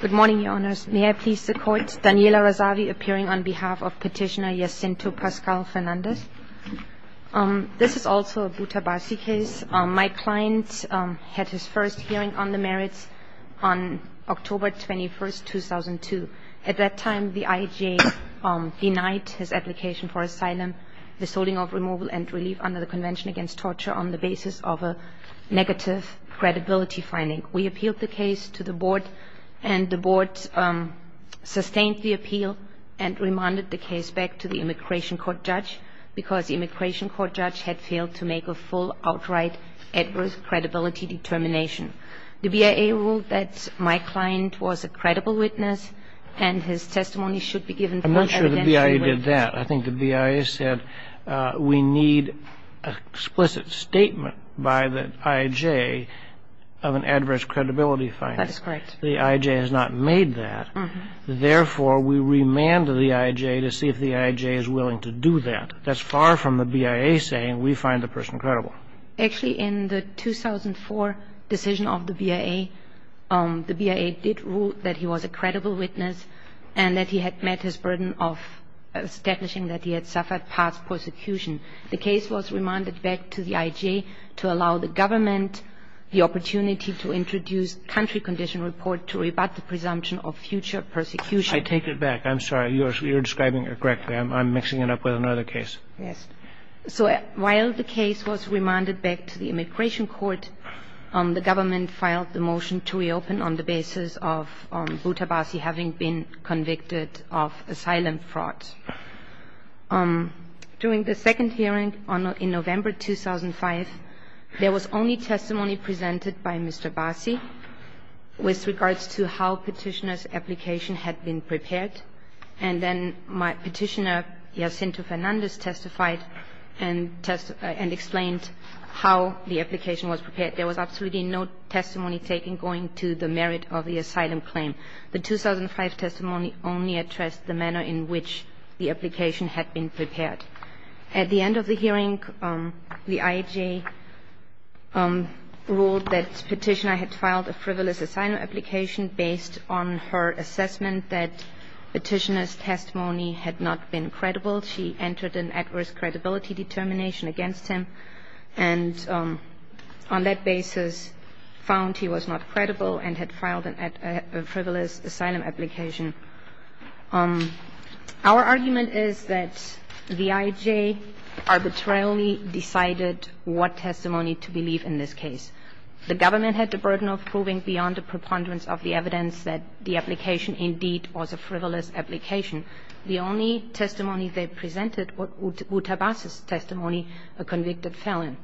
Good morning, Your Honours. May I please the Court? Daniela Razavi appearing on behalf of Petitioner Jacinto Pascal Fernandes. This is also a Butabasi case. My client had his first hearing on the merits on October 21st, 2002. At that time, the IJ denied his application for asylum, the solding of removal and relief under the Convention Against Torture on the basis of a negative credibility finding. We appealed the case to the Board, and the Board sustained the appeal and remanded the case back to the Immigration Court judge because the Immigration Court judge had failed to make a full, outright, adverse credibility determination. The BIA ruled that my client was a credible witness, and his testimony should be given for evidential witness. I'm not sure the BIA did that. I think the BIA said we need an explicit statement by the IJ of an adverse credibility finding. That's correct. The IJ has not made that. Therefore, we remanded the IJ to see if the IJ is willing to do that. That's far from the BIA saying we find the person credible. Actually, in the 2004 decision of the BIA, the BIA did rule that he was a credible witness and that he had met his burden of establishing that he had suffered past persecution. The case was remanded back to the IJ to allow the government the opportunity to introduce a country condition report to rebut the presumption of future persecution. I take it back. I'm sorry. You're describing it correctly. I'm mixing it up with another case. Yes. So while the case was remanded back to the Immigration Court, the government filed the motion to reopen on the basis of Butabasi having been convicted of asylum fraud. During the second hearing in November 2005, there was only testimony presented by Mr. Basi with regards to how Petitioner's application had been prepared. And then Petitioner Jacinto Fernandez testified and explained how the application was prepared. There was absolutely no testimony taken going to the merit of the asylum claim. The 2005 testimony only addressed the manner in which the application had been prepared. At the end of the hearing, the IJ ruled that Petitioner had filed a frivolous asylum application based on her assessment that Petitioner's testimony had not been credible. She entered an adverse credibility determination against him. And on that basis, found he was not credible and had filed a frivolous asylum application. Our argument is that the IJ arbitrarily decided what testimony to believe in this case. The government had the burden of proving beyond the preponderance of the evidence that the application indeed was a frivolous application. The only testimony they presented was Uta Basi's testimony, a convicted felon.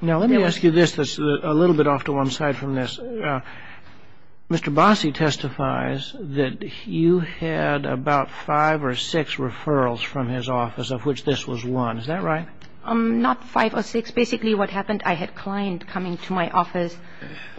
Now, let me ask you this that's a little bit off to one side from this. Mr. Basi testifies that you had about five or six referrals from his office, of which this was one. Is that right? Not five or six. Basically, what happened, I had a client coming to my office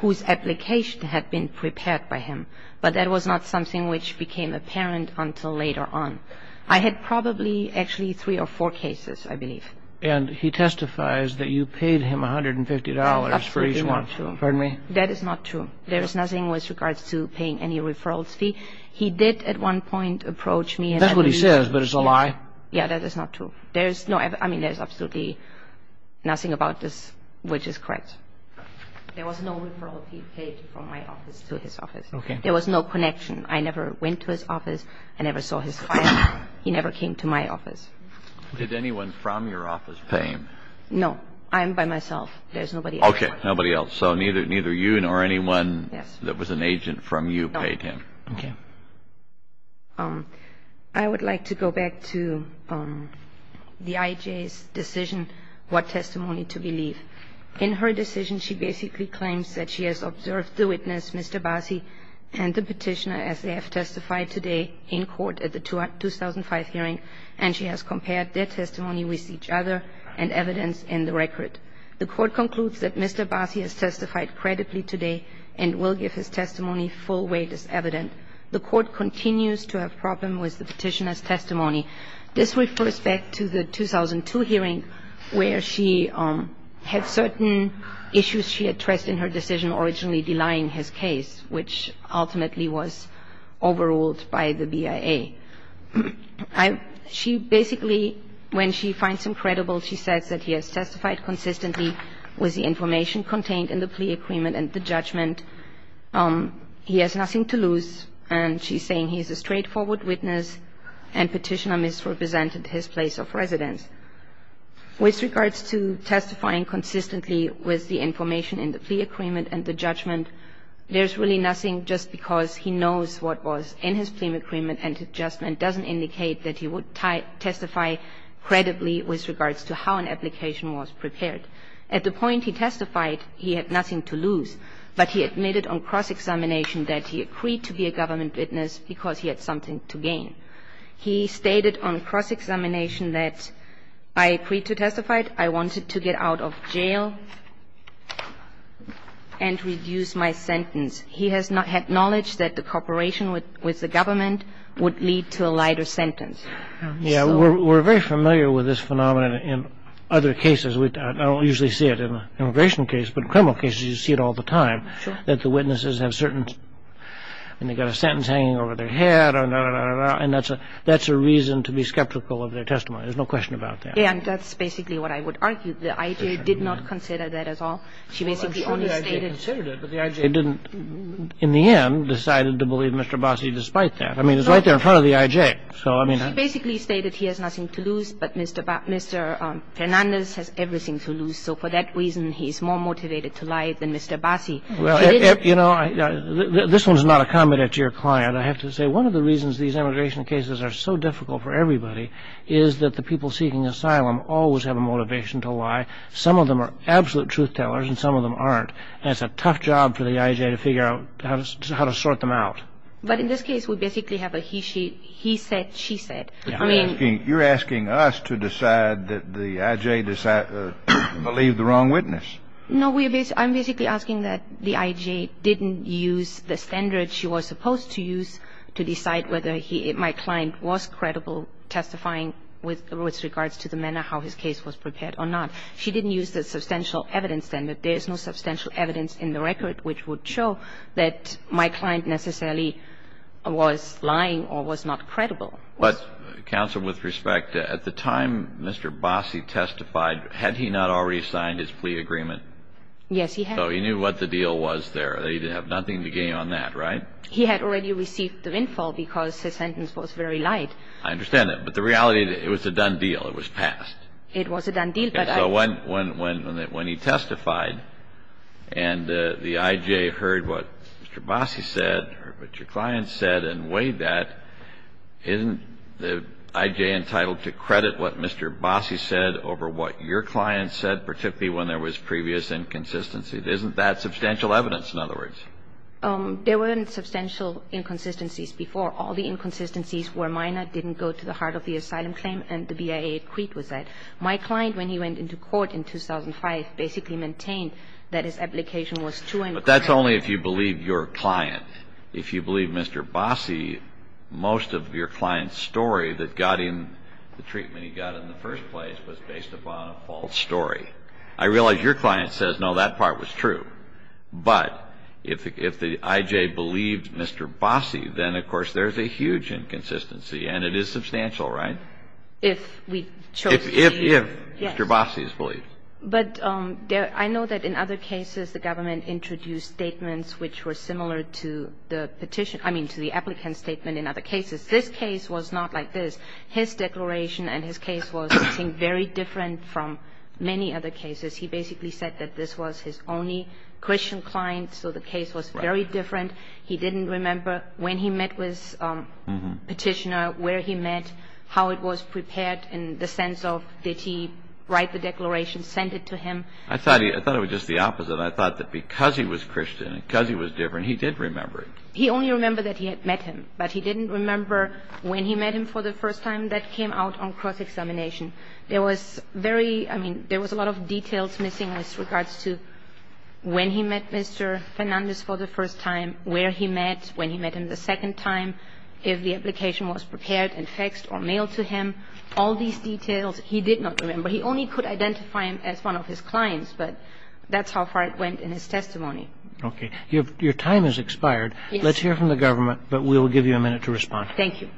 whose application had been prepared by him. But that was not something which became apparent until later on. I had probably actually three or four cases, I believe. And he testifies that you paid him $150 for each one. That is not true. There is nothing with regards to paying any referrals fee. He did at one point approach me. That's what he says, but it's a lie. Yeah, that is not true. I mean, there's absolutely nothing about this which is correct. There was no referral fee paid from my office to his office. Okay. There was no connection. I never went to his office. I never saw his client. He never came to my office. Did anyone from your office pay him? No. I'm by myself. There's nobody else. Okay. Nobody else. So neither you nor anyone that was an agent from you paid him. No. Okay. I would like to go back to the IJ's decision what testimony to believe. In her decision, she basically claims that she has observed the witness, Mr. Bassi, and the Petitioner as they have testified today in court at the 2005 hearing, and she has compared their testimony with each other and evidence in the record. The Court concludes that Mr. Bassi has testified credibly today and will give his testimony full weight as evident. Okay. This refers back to the 2002 hearing where she had certain issues she had stressed in her decision originally denying his case, which ultimately was overruled by the BIA. I ‑‑ she basically when she finds him credible, she says that he has testified consistently with the information contained in the plea agreement He has nothing to lose. And she's saying he's a straightforward witness and petitioner misrepresented his place of residence. With regards to testifying consistently with the information in the plea agreement and the judgment, there's really nothing just because he knows what was in his plea agreement and his judgment doesn't indicate that he would testify credibly with regards to how an application was prepared. At the point he testified, he had nothing to lose. He had nothing to lose, but he admitted on cross‑examination that he agreed to be a government witness because he had something to gain. He stated on cross‑examination that I agreed to testify, I wanted to get out of jail and reduce my sentence. He has not had knowledge that the cooperation with the government would lead to a lighter sentence. Yeah. We're very familiar with this phenomenon in other cases. I don't usually see it in an immigration case, but in criminal cases, you see it all the time. Sure. That the witnesses have certain ‑‑ and they've got a sentence hanging over their head, and that's a reason to be skeptical of their testimony. There's no question about that. Yeah, and that's basically what I would argue. The I.J. did not consider that at all. She basically only stated ‑‑ Well, I'm sure the I.J. considered it, but the I.J. didn't, in the end, decided to believe Mr. Bossey despite that. I mean, it's right there in front of the I.J. She basically stated he has nothing to lose, but Mr. Fernandez has everything to lose, so for that reason, he's more motivated to lie than Mr. Bossey. Well, you know, this one's not a comment at your client. I have to say one of the reasons these immigration cases are so difficult for everybody is that the people seeking asylum always have a motivation to lie. Some of them are absolute truth tellers and some of them aren't, and it's a tough job for the I.J. to figure out how to sort them out. But in this case, we basically have a he said, she said. I mean ‑‑ You're asking us to decide that the I.J. believed the wrong witness. No. I'm basically asking that the I.J. didn't use the standard she was supposed to use to decide whether he, my client, was credible testifying with regards to the manner how his case was prepared or not. She didn't use the substantial evidence standard. There is no substantial evidence in the record which would show that my client necessarily was lying or was not credible. But, counsel, with respect, at the time Mr. Bossey testified, had he not already signed his plea agreement? Yes, he had. So he knew what the deal was there. He didn't have nothing to gain on that, right? He had already received the windfall because his sentence was very light. I understand that. But the reality, it was a done deal. It was passed. It was a done deal. Okay. So when he testified and the I.J. heard what Mr. Bossey said or what your client said and weighed that, isn't the I.J. entitled to credit what Mr. Bossey said over what your client said, particularly when there was previous inconsistency? Isn't that substantial evidence, in other words? There weren't substantial inconsistencies before. All the inconsistencies were minor, didn't go to the heart of the asylum claim, and the BIA acquit was that. My client, when he went into court in 2005, basically maintained that his application was true and correct. But that's only if you believe your client. If you believe Mr. Bossey, most of your client's story that got him the treatment he got in the first place was based upon a false story. I realize your client says, no, that part was true. But if the I.J. believed Mr. Bossey, then, of course, there's a huge inconsistency, and it is substantial, right? If we chose to believe. If Mr. Bossey's belief. But I know that in other cases the government introduced statements which were similar to the petition – I mean, to the applicant's statement in other cases. This case was not like this. His declaration and his case was something very different from many other cases. He basically said that this was his only Christian client, so the case was very different. He didn't remember when he met with Petitioner, where he met, how it was prepared in the sense of did he write the declaration, send it to him. I thought it was just the opposite. I thought that because he was Christian and because he was different, he did remember it. He only remembered that he had met him. But he didn't remember when he met him for the first time. That came out on cross-examination. There was very – I mean, there was a lot of details missing with regards to when he met Mr. Fernandez for the first time, where he met, when he met him the second time, if the application was prepared and faxed or mailed to him. All these details he did not remember. He only could identify him as one of his clients, but that's how far it went in his testimony. Okay. Your time has expired. Yes. Let's hear from the government, but we'll give you a minute to respond. Thank you.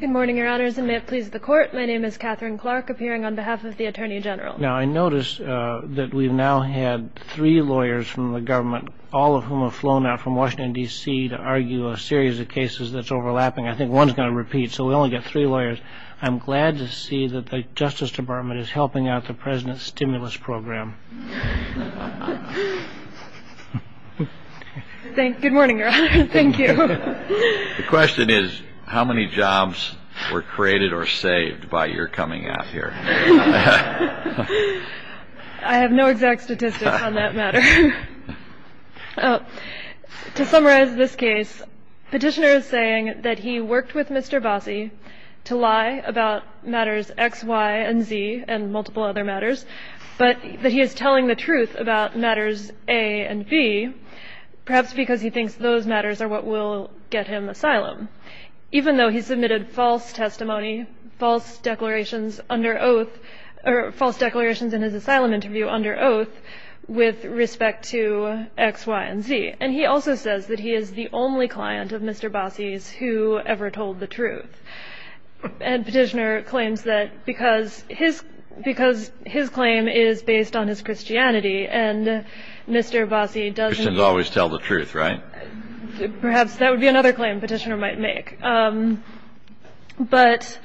Good morning, Your Honors. Your Honors, and may it please the Court. My name is Catherine Clarke, appearing on behalf of the Attorney General. Now, I notice that we've now had three lawyers from the government, all of whom have flown out from Washington, D.C., to argue a series of cases that's overlapping. I think one's going to repeat, so we only get three lawyers. I'm glad to see that the Justice Department is helping out the President's stimulus program. Thank – good morning, Your Honor. Thank you. The question is, how many jobs were created or saved by your coming out here? I have no exact statistics on that matter. To summarize this case, Petitioner is saying that he worked with Mr. Bossie to lie about matters X, Y, and Z, and multiple other matters, but that he is telling the truth about matters A and B, perhaps because he thinks those matters are what will get him asylum, even though he submitted false testimony, false declarations under oath – or false declarations in his asylum interview under oath with respect to X, Y, and Z. And he also says that he is the only client of Mr. Bossie's who ever told the truth. And Petitioner claims that because his claim is based on his Christianity and Mr. Bossie doesn't – doesn't tell the truth, right? Perhaps that would be another claim Petitioner might make. But –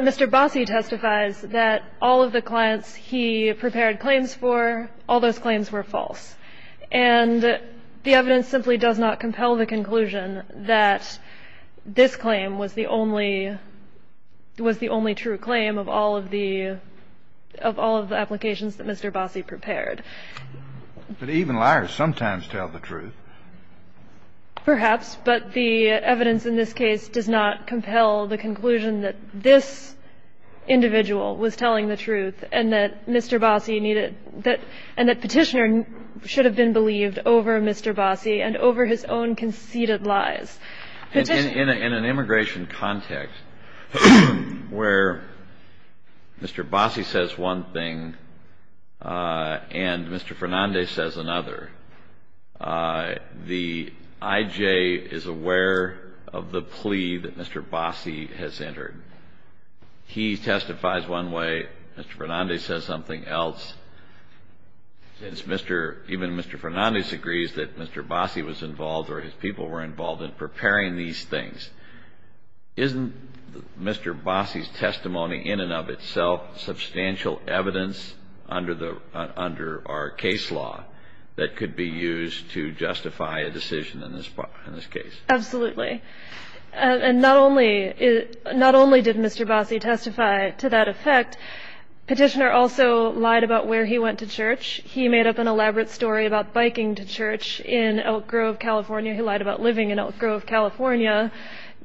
but Mr. Bossie testifies that all of the clients he prepared claims for, all those claims were false. And the evidence simply does not compel the conclusion that this claim was the only – was the only true claim of all of the – of all of the applications that Mr. Bossie prepared. But even liars sometimes tell the truth. Perhaps. But the evidence in this case does not compel the conclusion that this individual was telling the truth and that Mr. Bossie needed – that – and that Petitioner should have been believed over Mr. Bossie and over his own conceited lies. In an immigration context where Mr. Bossie says one thing and Mr. Fernandez says another, the IJ is aware of the plea that Mr. Bossie has entered. He testifies one way, Mr. Fernandez says something else. Since Mr. – even Mr. Fernandez agrees that Mr. Bossie was involved or his people were involved in preparing these things, isn't Mr. Bossie's testimony in and of itself substantial evidence under the – under our case law that could be used to justify a decision in this – in this case? Absolutely. And not only – not only did Mr. Bossie testify to that effect, Petitioner also lied about where he went to church. He made up an elaborate story about biking to church in Elk Grove, California. He lied about living in Elk Grove, California,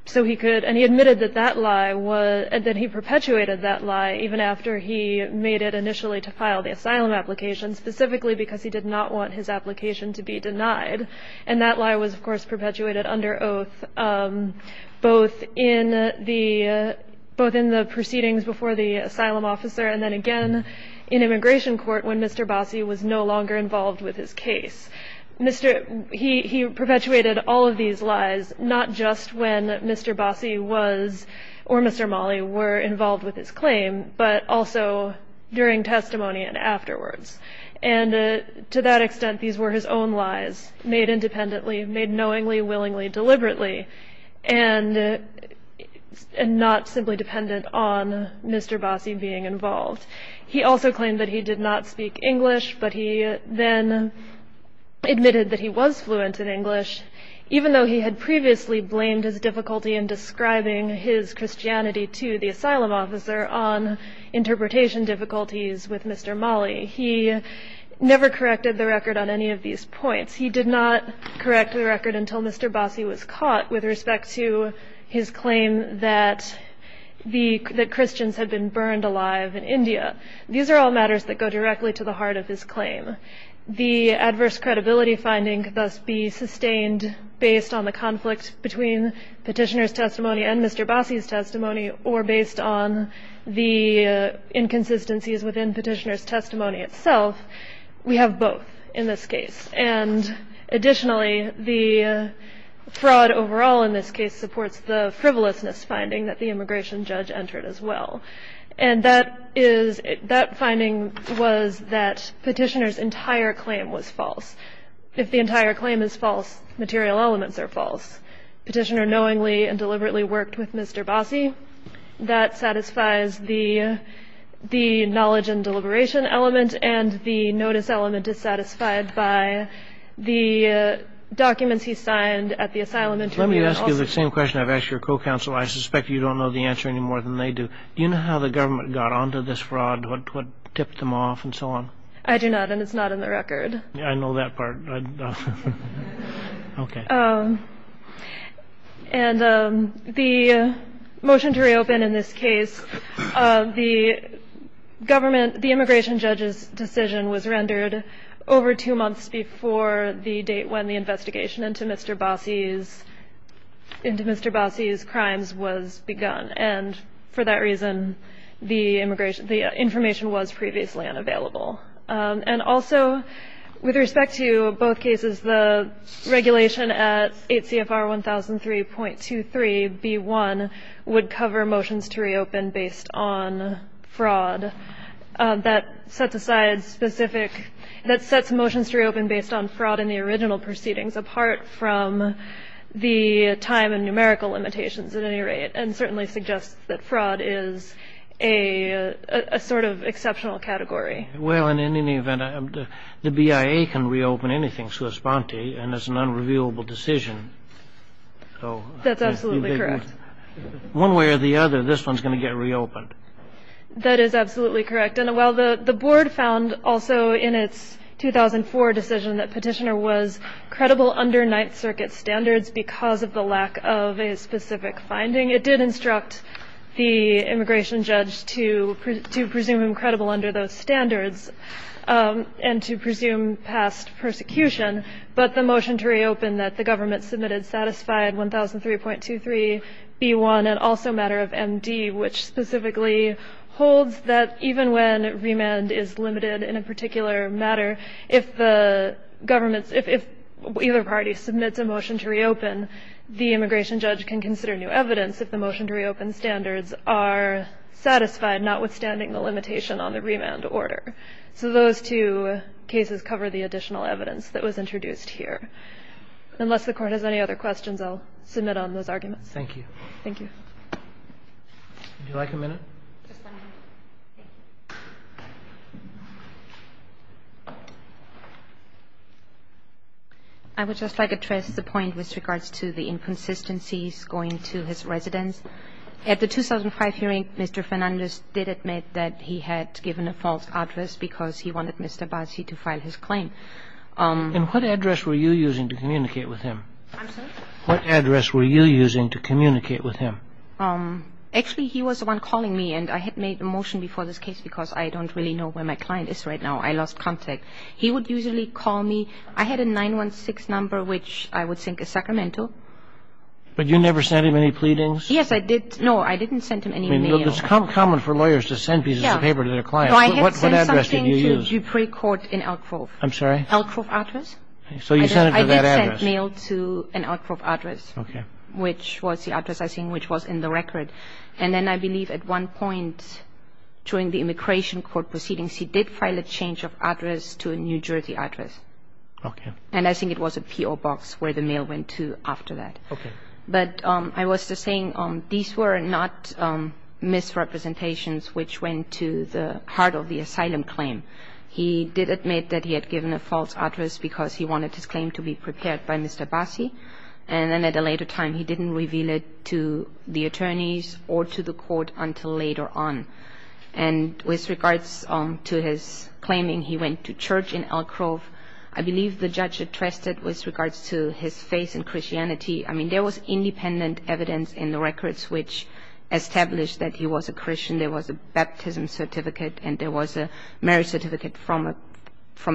so he could – and he admitted that that lie was – that he perpetuated that lie even after he made it initially to file the asylum application, specifically because he did not want his application to be denied. And that lie was, of course, perpetuated under oath, both in the – both in the proceedings before the asylum officer and then again in immigration court when Mr. Bossie was no longer involved with his case. Mr. – he perpetuated all of these lies, not just when Mr. Bossie was – or Mr. Mali were involved with his claim, but also during testimony and afterwards. And to that extent, these were his own lies, made independently, made knowingly, willingly, deliberately, and not simply dependent on Mr. Bossie being involved. He also claimed that he did not speak English, but he then admitted that he was fluent in English, even though he had previously blamed his difficulty in describing his Christianity to the asylum officer on interpretation difficulties with Mr. Mali. He never corrected the record on any of these points. He did not correct the record until Mr. Bossie was caught with respect to his claim that the – that Christians had been burned alive in India. These are all matters that go directly to the heart of his claim. The adverse credibility finding could thus be sustained based on the conflict between petitioner's testimony and Mr. Bossie's testimony or based on the inconsistencies within petitioner's testimony itself. We have both in this case. And additionally, the fraud overall in this case supports the frivolousness finding that the immigration judge entered as well. And that is – that finding was that petitioner's entire claim was false. If the entire claim is false, material elements are false. Petitioner knowingly and deliberately worked with Mr. Bossie. That satisfies the knowledge and deliberation element and the notice element dissatisfied by the documents he signed at the asylum. Let me ask you the same question I've asked your co-counsel. I suspect you don't know the answer any more than they do. Do you know how the government got onto this fraud? What tipped them off and so on? I do not, and it's not in the record. I know that part. Okay. And the motion to reopen in this case, the government – the immigration judge's decision was rendered over two months before the date when the investigation into Mr. Bossie's – into Mr. Bossie's crimes was begun. And for that reason, the information was previously unavailable. And also, with respect to both cases, the regulation at 8 CFR 1003.23B1 would cover motions to reopen based on fraud. That sets aside specific – that sets motions to reopen based on fraud in the original proceedings, apart from the time and numerical limitations, at any rate, and certainly suggests that fraud is a sort of exceptional category. Well, and in any event, the BIA can reopen anything to a sponte, and it's an unrevealable decision. That's absolutely correct. One way or the other, this one's going to get reopened. That is absolutely correct. And while the board found also in its 2004 decision that Petitioner was credible under Ninth Circuit standards because of the lack of a specific finding, it did instruct the immigration judge to presume him credible under those standards and to presume past persecution. But the motion to reopen that the government submitted satisfied 1003.23B1 and also a matter of MD, which specifically holds that even when remand is limited in a particular matter, if the government's – if either party submits a motion to reopen, the immigration judge can consider new evidence if the motion to reopen standards are satisfied, notwithstanding the limitation on the remand order. So those two cases cover the additional evidence that was introduced here. Unless the Court has any other questions, I'll submit on those arguments. Thank you. Thank you. Would you like a minute? Just one minute. I would just like to address the point with regards to the inconsistencies going to his residence. At the 2005 hearing, Mr. Fernandez did admit that he had given a false address because he wanted Mr. Bassi to file his claim. And what address were you using to communicate with him? I'm sorry? What address were you using to communicate with him? Actually, he was the one calling me, and I had made a motion before, for this case, because I don't really know where my client is right now. I lost contact. He would usually call me. I had a 916 number, which I would think is sacramental. But you never sent him any pleadings? Yes, I did. No, I didn't send him any mail. I mean, it's common for lawyers to send pieces of paper to their clients. What address did you use? No, I had sent something to Dupree Court in Elk Grove. I'm sorry? Elk Grove address. So you sent it to that address. I did send mail to an Elk Grove address, which was the address, I think, which was in the record. And then I believe at one point during the immigration court proceedings, he did file a change of address to a New Jersey address. Okay. And I think it was a P.O. box where the mail went to after that. Okay. But I was just saying, these were not misrepresentations which went to the heart of the asylum claim. He did admit that he had given a false address because he wanted his claim to be prepared by Mr. Bassi. And then at a later time, he didn't reveal it to the attorneys or to the court until later on. And with regards to his claiming he went to church in Elk Grove, I believe the judge addressed it with regards to his faith in Christianity. I mean, there was independent evidence in the records which established that he was a Christian. There was a baptism certificate and there was a marriage certificate from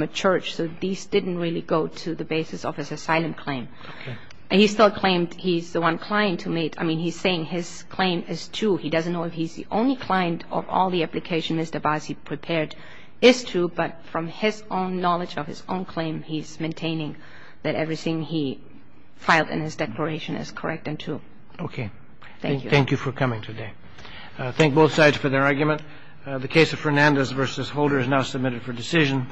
a church. So these didn't really go to the basis of his asylum claim. Okay. And he still claimed he's the one client who made – I mean, he's saying his claim is true. He doesn't know if he's the only client of all the applications Mr. Bassi prepared is true. But from his own knowledge of his own claim, he's maintaining that everything he filed in his declaration is correct and true. Okay. Thank you. Thank you for coming today. Thank both sides for their argument. The case of Fernandez v. Holder is now submitted for decision.